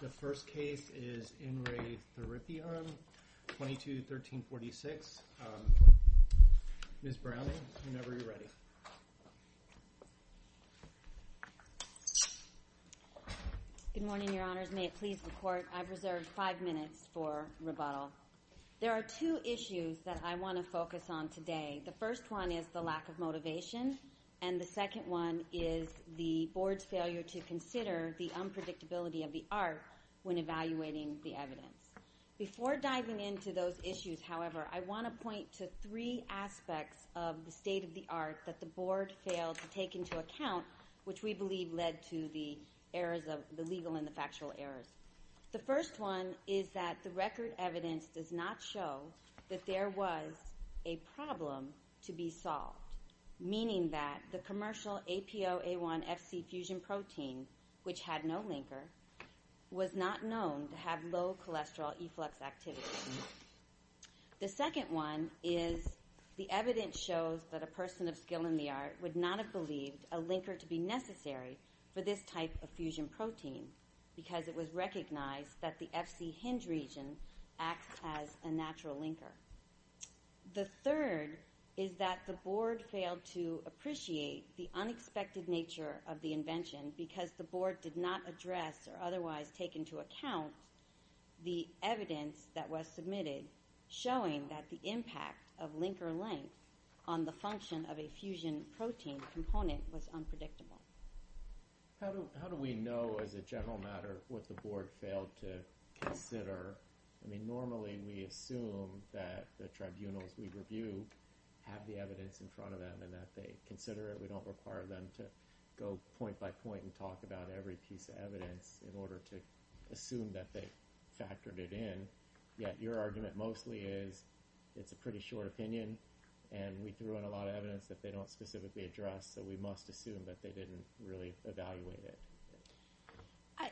The first case is In Re Theripion, 22-1346. Ms. Browning, whenever you're ready. Good morning, Your Honors. May it please the Court, I've reserved five minutes for rebuttal. There are two issues that I want to focus on today. The first one is the lack of motivation, and the second one is the Board's failure to consider the unpredictability of the art when evaluating the evidence. Before diving into those issues, however, I want to point to three aspects of the state of the art that the Board failed to take into account, which we believe led to the legal and the factual errors. The first one is that the record evidence does not show that there was a problem to be solved, meaning that the commercial APOA1-FC fusion protein, which had no linker, was not known to have low cholesterol efflux activity. The second one is the evidence shows that a person of skill in the art would not have believed a linker to be necessary for this type of fusion protein because it was recognized that the FC hinge region acts as a natural linker. The third is that the Board failed to appreciate the unexpected nature of the invention because the Board did not address or otherwise take into account the evidence that was submitted showing that the impact of linker length on the function of a fusion protein component was unpredictable. How do we know, as a general matter, what the Board failed to consider? Normally we assume that the tribunals we review have the evidence in front of them and that they consider it. We don't require them to go point by point and talk about every piece of evidence in order to assume that they factored it in. Yet your argument mostly is it's a pretty short opinion, and we threw in a lot of evidence that they don't specifically address, so we must assume that they didn't really evaluate it.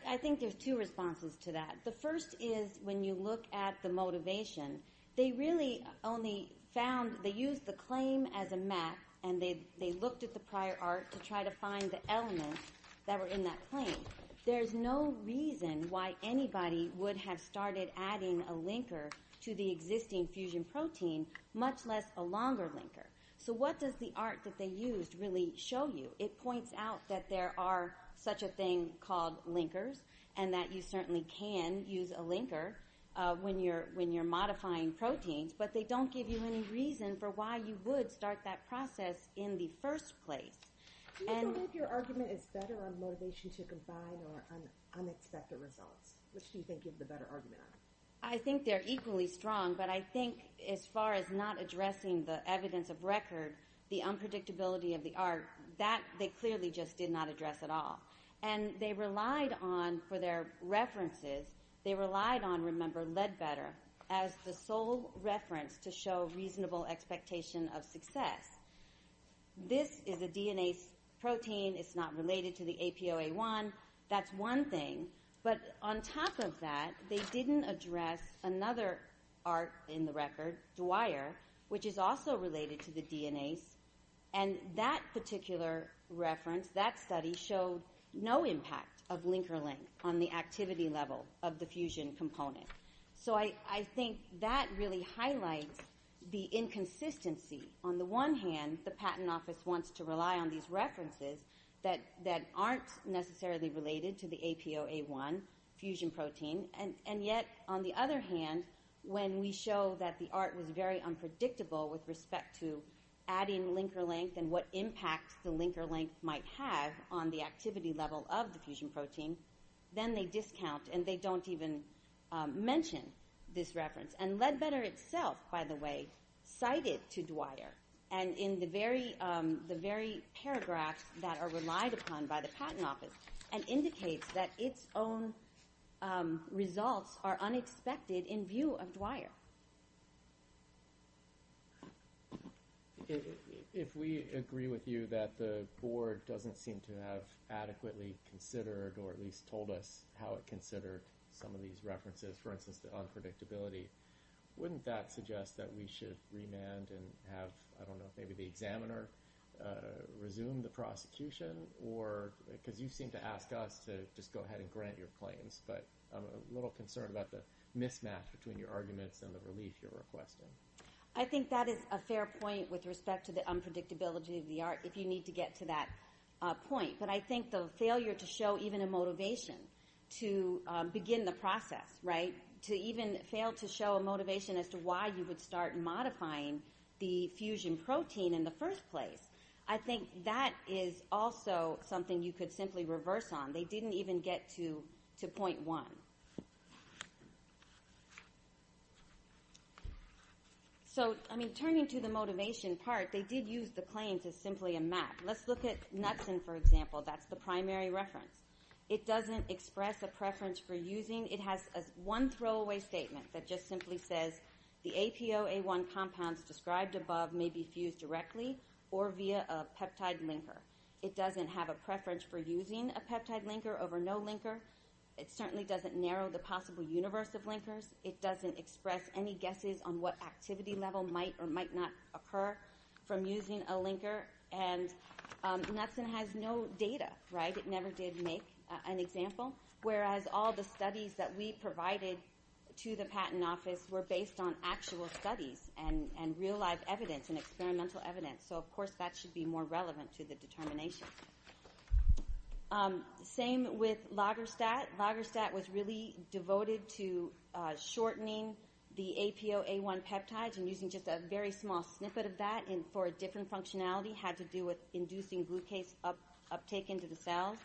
I think there's two responses to that. The first is when you look at the motivation, they really only found they used the claim as a map, and they looked at the prior art to try to find the elements that were in that claim. There's no reason why anybody would have started adding a linker to the existing fusion protein, much less a longer linker. So what does the art that they used really show you? It points out that there are such a thing called linkers and that you certainly can use a linker when you're modifying proteins, but they don't give you any reason for why you would start that process in the first place. Do you believe your argument is better on motivation to combine or on unexpected results? Which do you think is the better argument on it? I think they're equally strong, but I think as far as not addressing the evidence of record, the unpredictability of the art, that they clearly just did not address at all. And they relied on, for their references, they relied on, remember, Leadbetter as the sole reference to show reasonable expectation of success. This is a DNase protein. It's not related to the APOA1. That's one thing, but on top of that, they didn't address another art in the record, Dwyer, which is also related to the DNase, and that particular reference, that study, showed no impact of linker length on the activity level of the fusion component. So I think that really highlights the inconsistency. On the one hand, the Patent Office wants to rely on these references that aren't necessarily related to the APOA1 fusion protein, and yet, on the other hand, when we show that the art was very unpredictable with respect to adding linker length and what impact the linker length might have on the activity level of the fusion protein, then they discount and they don't even mention this reference. And Leadbetter itself, by the way, cited to Dwyer, and in the very paragraphs that are relied upon by the Patent Office, and indicates that its own results are unexpected in view of Dwyer. If we agree with you that the Board doesn't seem to have adequately considered or at least told us how it considered some of these references, for instance, the unpredictability, wouldn't that suggest that we should remand and have, I don't know, maybe the examiner resume the prosecution? Because you seem to ask us to just go ahead and grant your claims, but I'm a little concerned about the mismatch between your arguments and the relief you're requesting. I think that is a fair point with respect to the unpredictability of the art, if you need to get to that point. But I think the failure to show even a motivation to begin the process, to even fail to show a motivation as to why you would start modifying the fusion protein in the first place, I think that is also something you could simply reverse on. They didn't even get to point one. So, I mean, turning to the motivation part, they did use the claims as simply a map. Let's look at Nutsen, for example. That's the primary reference. It doesn't express a preference for using. It has one throwaway statement that just simply says, the APOA1 compounds described above may be fused directly or via a peptide linker. It doesn't have a preference for using a peptide linker over no linker. It certainly doesn't narrow the possible universe of linkers. It doesn't express any guesses on what activity level might or might not occur from using a linker. And Nutsen has no data, right? It never did make an example. Whereas all the studies that we provided to the patent office were based on actual studies and real-life evidence and experimental evidence. So, of course, that should be more relevant to the determination. Same with Loggerstat. Loggerstat was really devoted to shortening the APOA1 peptides and using just a very small snippet of that for a different functionality. It had to do with inducing blue case uptake into the cells.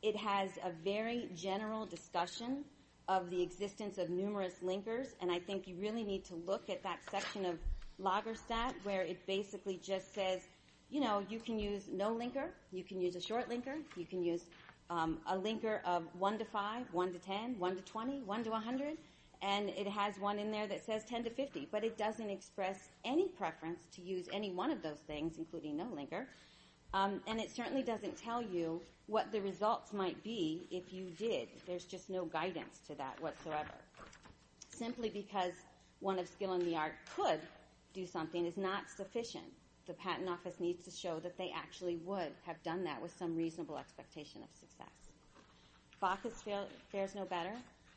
It has a very general discussion of the existence of numerous linkers. And I think you really need to look at that section of Loggerstat where it basically just says, you know, you can use no linker. You can use a short linker. You can use a linker of 1 to 5, 1 to 10, 1 to 20, 1 to 100. And it has one in there that says 10 to 50. But it doesn't express any preference to use any one of those things, including no linker. And it certainly doesn't tell you what the results might be if you did. There's just no guidance to that whatsoever. Simply because one of skill in the art could do something is not sufficient. The patent office needs to show that they actually would have done that with some reasonable expectation of success. Bacchus fares no better.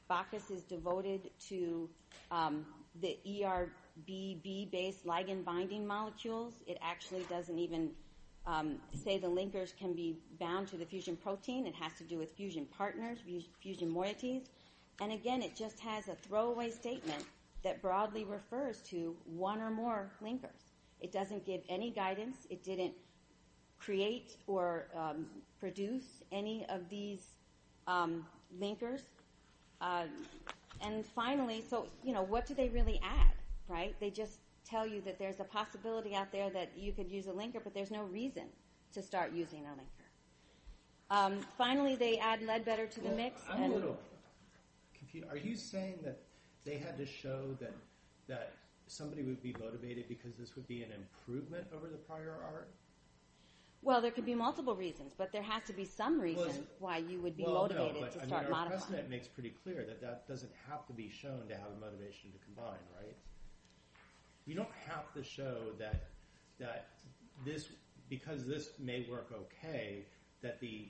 Bacchus is devoted to the ERBB-based ligand-binding molecules. It actually doesn't even say the linkers can be bound to the fusion protein. It has to do with fusion partners, fusion moieties. And again, it just has a throwaway statement that broadly refers to one or more linkers. It doesn't give any guidance. It didn't create or produce any of these linkers. And finally, so, you know, what do they really add, right? They just tell you that there's a possibility out there that you could use a linker, but there's no reason to start using a linker. Finally, they add lead better to the mix. I'm a little confused. Are you saying that they had to show that somebody would be motivated because this would be an improvement over the prior art? Well, there could be multiple reasons, that doesn't have to be shown to have a motivation to combine, right? You don't have to show that because this may work okay, that the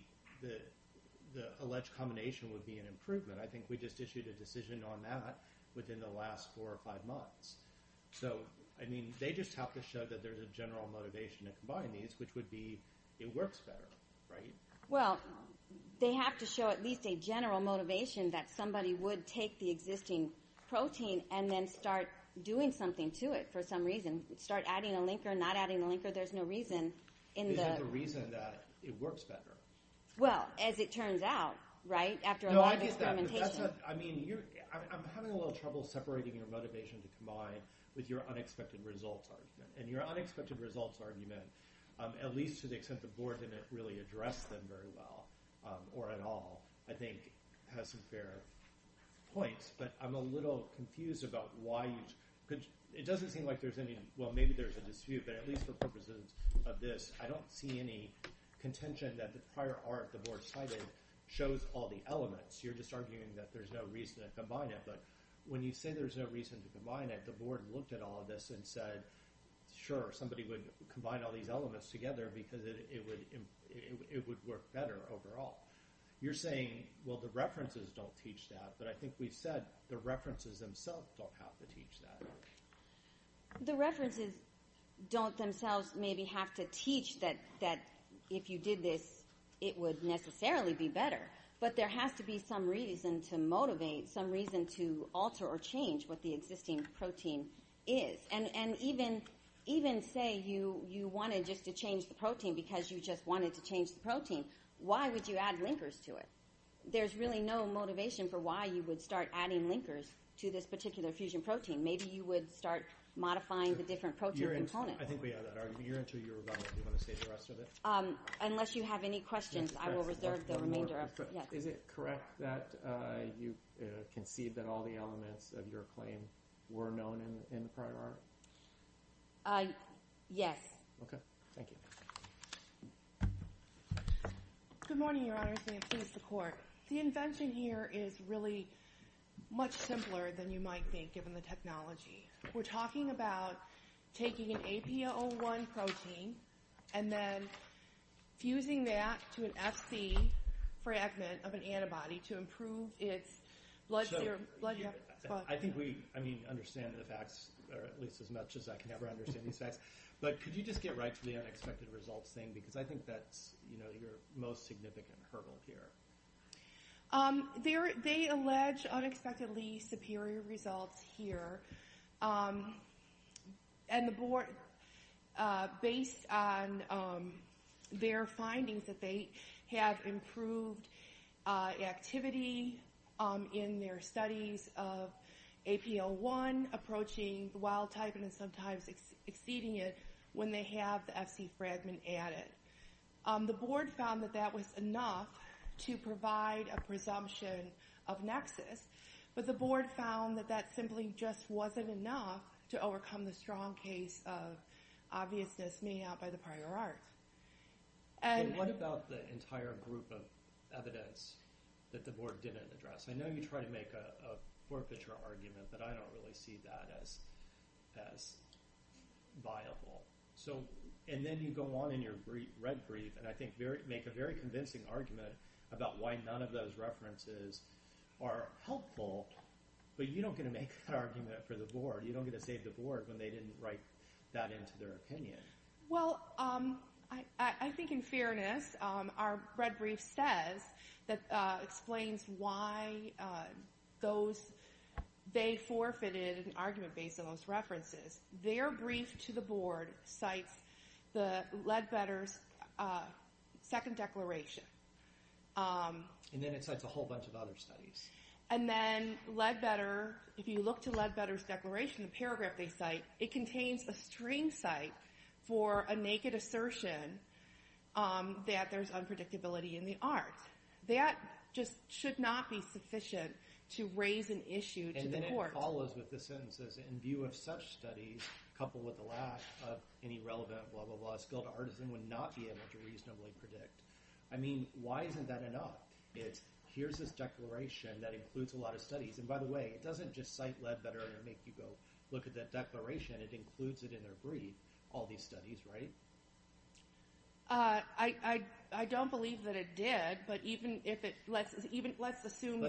alleged combination would be an improvement. I think we just issued a decision on that within the last four or five months. So, I mean, they just have to show that there's a general motivation to combine these, which would be it works better, right? Well, they have to show at least a general motivation that somebody would take the existing protein and then start doing something to it for some reason. Start adding a linker, not adding a linker. There's no reason in the… There's no reason that it works better. Well, as it turns out, right, after a lot of experimentation. No, I get that, but that's not… I mean, you're… I'm having a little trouble separating your motivation to combine with your unexpected results argument. And your unexpected results argument, at least to the extent the board didn't really address them very well or at all, I think has some fair points. But I'm a little confused about why you… It doesn't seem like there's any… Well, maybe there's a dispute, but at least for purposes of this, I don't see any contention that the prior art the board cited shows all the elements. You're just arguing that there's no reason to combine it. But when you say there's no reason to combine it, the board looked at all of this and said, sure, somebody would combine all these elements together because it would work better overall. You're saying, well, the references don't teach that, but I think we've said the references themselves don't have to teach that. The references don't themselves maybe have to teach that if you did this, it would necessarily be better. But there has to be some reason to motivate, some reason to alter or change what the existing protein is. And even say you wanted just to change the protein because you just wanted to change the protein, why would you add linkers to it? There's really no motivation for why you would start adding linkers to this particular fusion protein. Maybe you would start modifying the different protein components. I think we have that argument. You're into your rebuttal. Do you want to say the rest of it? Unless you have any questions, I will reserve the remainder of it. Is it correct that you conceived that all the elements of your claim were known in the prior art? Yes. Okay. Thank you. Good morning, Your Honors. May it please the Court. The invention here is really much simpler than you might think given the technology. We're talking about taking an APO1 protein and then fusing that to an FC fragment of an antibody to improve its blood serum. I think we understand the facts, or at least as much as I can ever understand these facts. But could you just get right to the unexpected results thing? Because I think that's your most significant hurdle here. They allege unexpectedly superior results here. And the Board, based on their findings, that they have improved activity in their studies of APO1 approaching the wild type and then sometimes exceeding it when they have the FC fragment added. The Board found that that was enough to provide a presumption of nexus, but the Board found that that simply just wasn't enough to overcome the strong case of obviousness made out by the prior art. What about the entire group of evidence that the Board didn't address? I know you try to make a forfeiture argument, but I don't really see that as viable. And then you go on in your red brief and I think make a very convincing argument about why none of those references are helpful, but you don't get to make that argument for the Board. You don't get to save the Board when they didn't write that into their opinion. Well, I think in fairness, our red brief says that explains why they forfeited an argument based on those references. Their brief to the Board cites the Leadbetter's second declaration. And then it cites a whole bunch of other studies. And then if you look to Leadbetter's declaration, the paragraph they cite, it contains a string cite for a naked assertion that there's unpredictability in the art. That just should not be sufficient to raise an issue to the Court. And then it follows with the sentences, in view of such studies, coupled with the lack of any relevant blah, blah, blah, skilled artisan would not be able to reasonably predict. I mean, why isn't that enough? It's here's this declaration that includes a lot of studies. And by the way, it doesn't just cite Leadbetter and make you go look at that declaration. It includes it in their brief, all these studies, right? I don't believe that it did. But even if it let's assume it did. Let's assume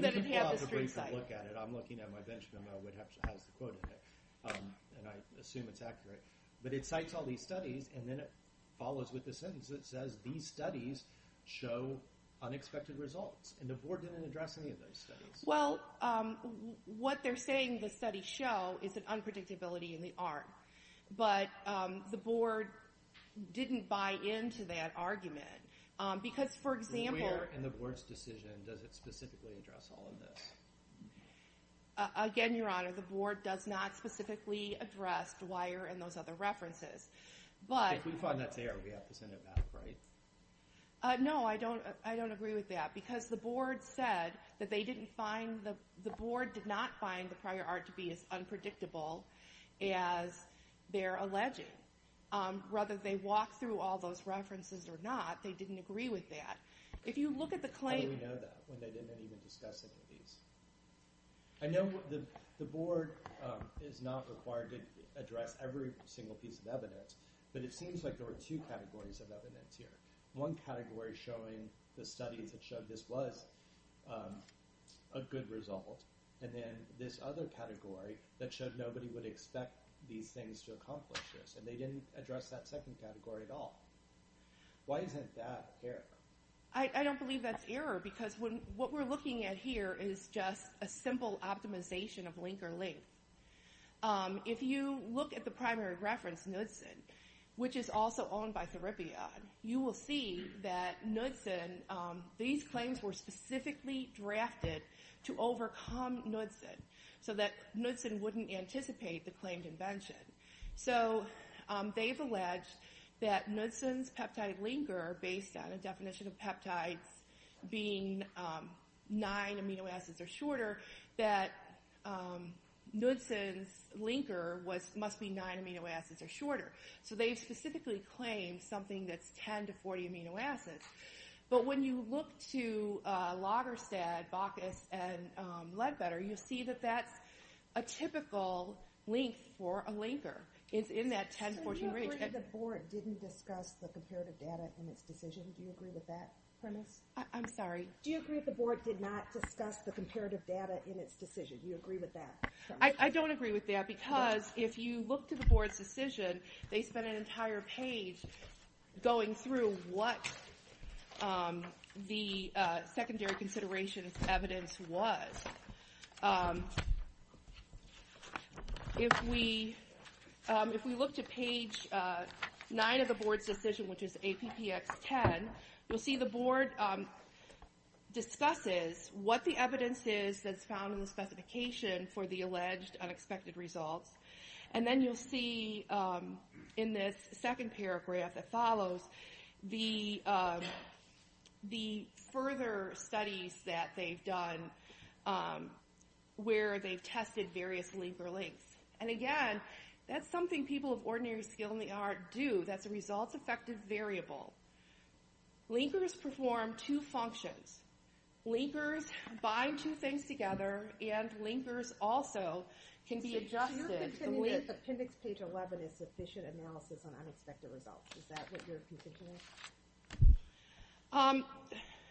that it had the string cite. I'm looking at my bench memo. It has the quote in it. And I assume it's accurate. But it cites all these studies. And then it follows with the sentence that says, these studies show unexpected results. And the Board didn't address any of those studies. Well, what they're saying the studies show is an unpredictability in the art. But the Board didn't buy into that argument. Because, for example. Where in the Board's decision does it specifically address all of this? Again, Your Honor, the Board does not specifically address Dwyer and those other references. If we find that's there, we have to send it back, right? No, I don't agree with that. Because the Board said that they didn't find, the Board did not find the prior art to be as unpredictable as they're alleging. Whether they walked through all those references or not, they didn't agree with that. How do we know that when they didn't even discuss any of these? I know the Board is not required to address every single piece of evidence. But it seems like there were two categories of evidence here. One category showing the studies that showed this was a good result. And then this other category that showed nobody would expect these things to accomplish this. And they didn't address that second category at all. Why isn't that error? I don't believe that's error. Because what we're looking at here is just a simple optimization of link or link. If you look at the primary reference, Knudsen, which is also owned by Therapion, you will see that Knudsen, these claims were specifically drafted to overcome Knudsen. So that Knudsen wouldn't anticipate the claimed invention. So they've alleged that Knudsen's peptide linker, based on a definition of peptides being nine amino acids or shorter, that Knudsen's linker must be nine amino acids or shorter. So they've specifically claimed something that's 10 to 40 amino acids. But when you look to Lagerstede, Baucus, and Leadbetter, you'll see that that's a typical link for a linker. It's in that 10 to 40 range. Do you agree that the Board didn't discuss the comparative data in its decision? Do you agree with that premise? I'm sorry? Do you agree that the Board did not discuss the comparative data in its decision? Do you agree with that? I don't agree with that because if you look to the Board's decision, they spent an entire page going through what the secondary consideration of evidence was. If we look to page 9 of the Board's decision, which is APPX10, you'll see the Board discusses what the evidence is that's found in the specification for the alleged unexpected results. And then you'll see in this second paragraph that follows the further studies that they've done where they've tested various linker links. And again, that's something people of ordinary skill in the art do. That's a results-effective variable. Linkers perform two functions. Linkers bind two things together. And linkers also can be adjusted. So your opinion is that appendix page 11 is sufficient analysis on unexpected results. Is that what you're contending?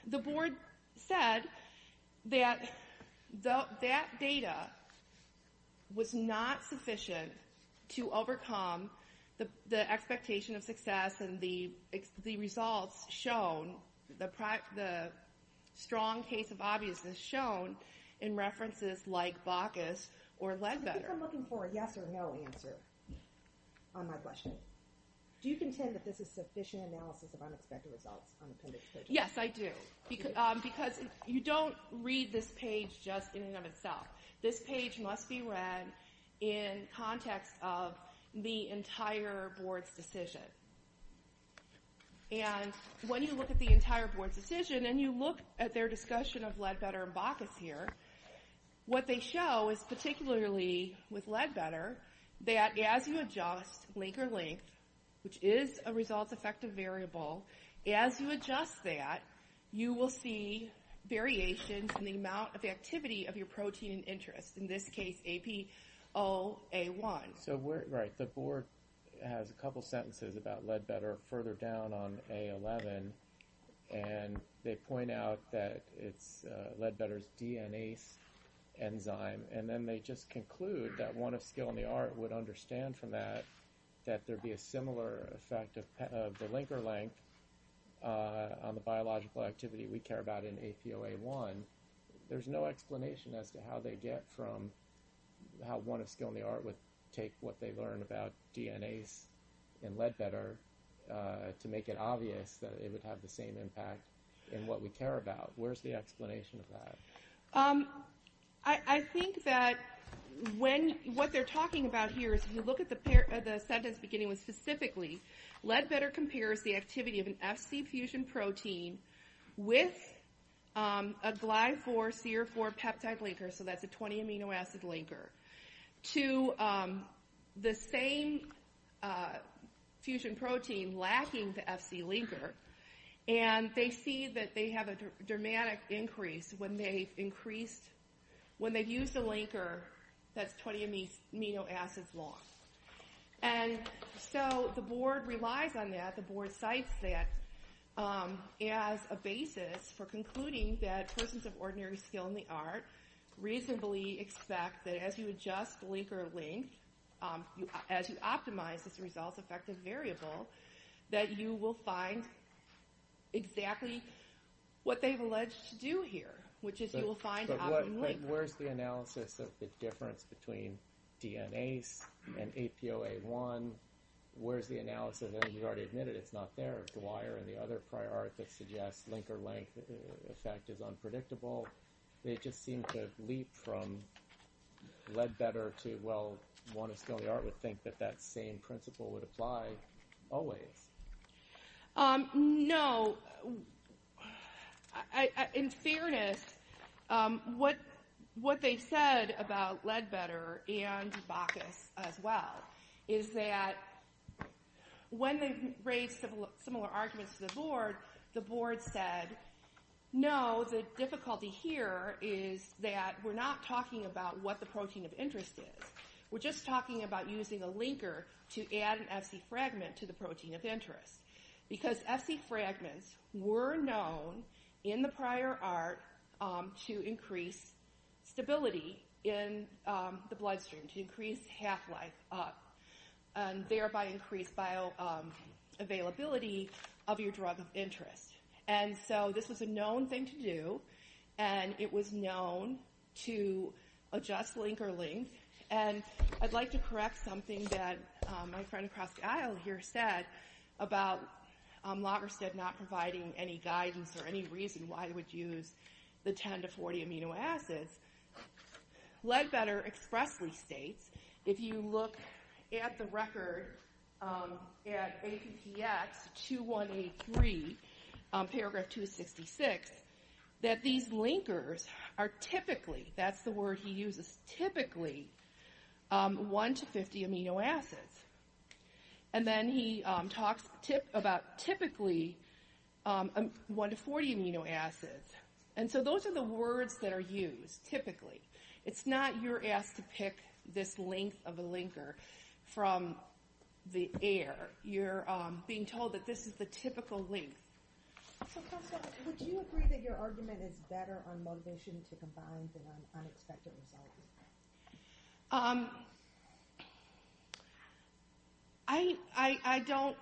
The Board said that that data was not sufficient to overcome the expectation of success and the results shown, the strong case of obviousness shown, in references like Bacchus or Ledbetter. I think I'm looking for a yes or no answer on my question. Do you contend that this is sufficient analysis of unexpected results on appendix page 11? Yes, I do. Because you don't read this page just in and of itself. This page must be read in context of the entire Board's decision. And when you look at the entire Board's decision, and you look at their discussion of Ledbetter and Bacchus here, what they show is, particularly with Ledbetter, that as you adjust linker link, which is a results-effective variable, as you adjust that, you will see variations in the amount of activity of your protein in interest, in this case APOA1. Right. The Board has a couple sentences about Ledbetter further down on page 11, and they point out that Ledbetter is a DNase enzyme, and then they just conclude that one of skill in the art would understand from that that there would be a similar effect of the linker link on the biological activity we care about in APOA1. There's no explanation as to how they get from how one of skill in the art would take what they learned about DNase in Ledbetter to make it obvious that it would have the same impact in what we care about. Where's the explanation of that? I think that what they're talking about here is, if you look at the sentence beginning with specifically, Ledbetter compares the activity of an FC fusion protein with a Gly-4, CR-4 peptide linker, so that's a 20-amino acid linker, to the same fusion protein lacking the FC linker, and they see that they have a dramatic increase when they've increased, when they've used a linker that's 20 amino acids long. And so the board relies on that, the board cites that as a basis for concluding that persons of ordinary skill in the art reasonably expect that as you adjust linker link, as you optimize this result-effective variable, that you will find exactly what they've alleged to do here, which is you will find optimum linker. But where's the analysis of the difference between DNase and APOA1? Where's the analysis? You've already admitted it's not there. Dwyer and the other prior art that suggests linker link effect is unpredictable. They just seem to leap from Ledbetter to, well, one of skill in the art would think that that same principle would apply always. No. In fairness, what they said about Ledbetter and Bacchus as well is that when they raised similar arguments to the board, the board said, no, the difficulty here is that we're not talking about what the protein of interest is. We're just talking about using a linker to add an FC fragment to the protein of interest because FC fragments were known in the prior art to increase stability in the bloodstream, to increase half-life up, and thereby increase bioavailability of your drug of interest. And so this was a known thing to do, and it was known to adjust linker link, and I'd like to correct something that my friend across the aisle here said about Lagersted not providing any guidance or any reason why they would use the 10 to 40 amino acids. Ledbetter expressly states, if you look at the record at APPX 2183, paragraph 266, that these linkers are typically, that's the word he uses, typically 1 to 50 amino acids. And then he talks about typically 1 to 40 amino acids. And so those are the words that are used, typically. It's not you're asked to pick this length of a linker from the air. You're being told that this is the typical length. So counsel, would you agree that your argument is better on motivation to combine the unexpected result? I don't.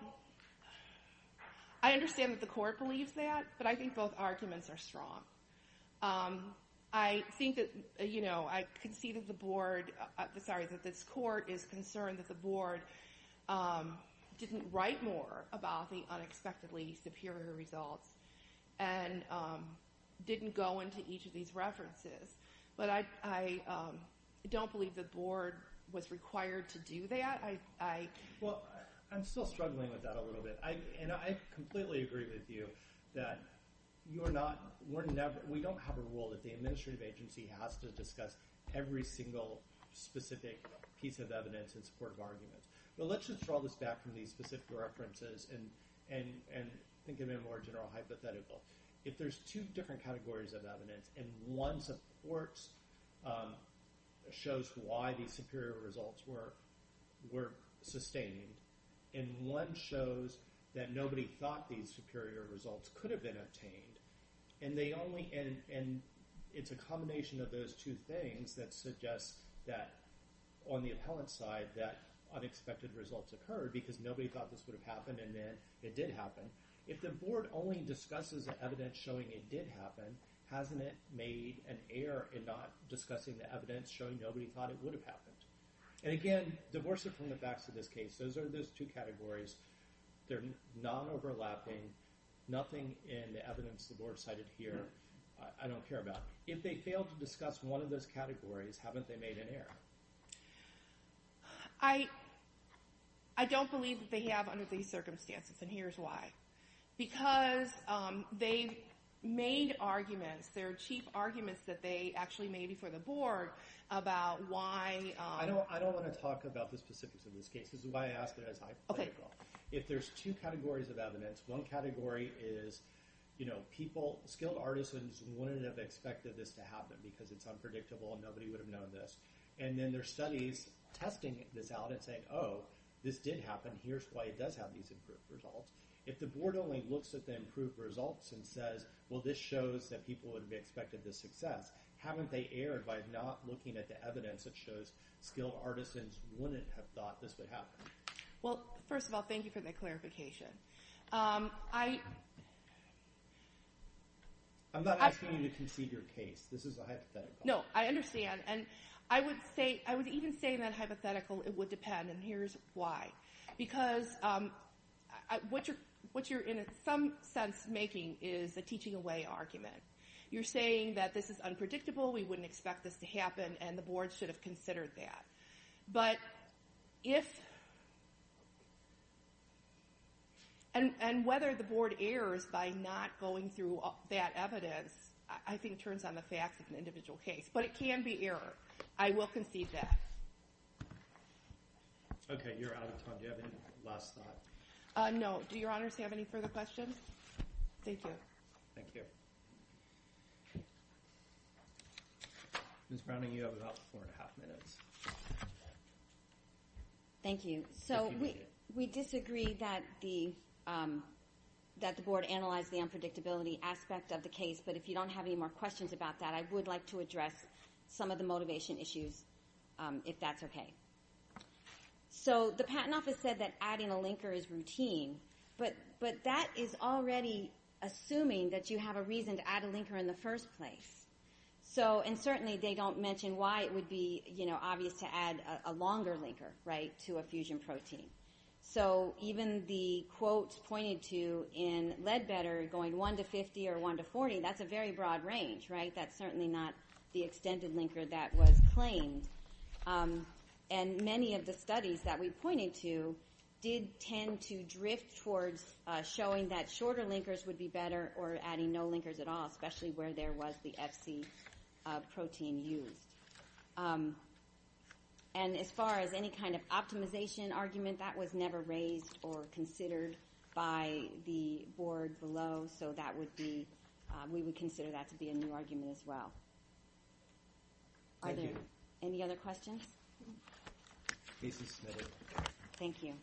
I understand that the court believes that, but I think both arguments are strong. I think that, you know, I concede that the board, sorry, that this court is concerned that the board didn't write more about the unexpectedly superior results and didn't go into each of these references. But I don't believe the board was required to do that. Well, I'm still struggling with that a little bit. And I completely agree with you that you are not, we don't have a rule that the administrative agency has to discuss every single specific piece of evidence in support of arguments. But let's just draw this back from these specific references and think of it in a more general hypothetical. If there's two different categories of evidence and one supports, shows why these superior results were sustained, and one shows that nobody thought these superior results could have been obtained, and they only – and it's a combination of those two things that suggests that on the appellant side that unexpected results occurred because nobody thought this would have happened and then it did happen. If the board only discusses the evidence showing it did happen, hasn't it made an error in not discussing the evidence showing nobody thought it would have happened? And again, divorce it from the facts of this case. Those are those two categories. They're non-overlapping. Nothing in the evidence the board cited here I don't care about. If they fail to discuss one of those categories, haven't they made an error? I don't believe that they have under these circumstances, and here's why. Because they've made arguments. There are cheap arguments that they actually made before the board about why – I don't want to talk about the specifics of this case. This is why I asked it as hypothetical. If there's two categories of evidence, one category is people – skilled artisans wouldn't have expected this to happen because it's unpredictable and nobody would have known this. And then there's studies testing this out and saying, oh, this did happen. Here's why it does have these improved results. If the board only looks at the improved results and says, well, this shows that people would have expected this success, haven't they erred by not looking at the evidence that shows skilled artisans wouldn't have thought this would happen? Well, first of all, thank you for that clarification. I'm not asking you to concede your case. This is a hypothetical. No, I understand, and I would even say in that hypothetical it would depend, and here's why. Because what you're in some sense making is a teaching away argument. You're saying that this is unpredictable, we wouldn't expect this to happen, and the board should have considered that. But if – and whether the board errs by not going through that evidence I think turns on the facts of an individual case. But it can be error. I will concede that. Okay, you're out of time. Do you have any last thoughts? No. Do your honors have any further questions? Thank you. Thank you. Ms. Browning, you have about four and a half minutes. Thank you. So we disagree that the board analyzed the unpredictability aspect of the case, but if you don't have any more questions about that, I would like to address some of the motivation issues if that's okay. So the patent office said that adding a linker is routine, but that is already assuming that you have a reason to add a linker in the first place. And certainly they don't mention why it would be obvious to add a longer linker to a fusion protein. So even the quote pointed to in Leadbetter going 1 to 50 or 1 to 40, that's a very broad range, right? That's certainly not the extended linker that was claimed. And many of the studies that we pointed to did tend to drift towards showing that shorter linkers would be better or adding no linkers at all, especially where there was the FC protein used. And as far as any kind of optimization argument, that was never raised or considered by the board below, so that would be – we would consider that to be a new argument as well. Thank you. Are there any other questions? Case is submitted. Thank you.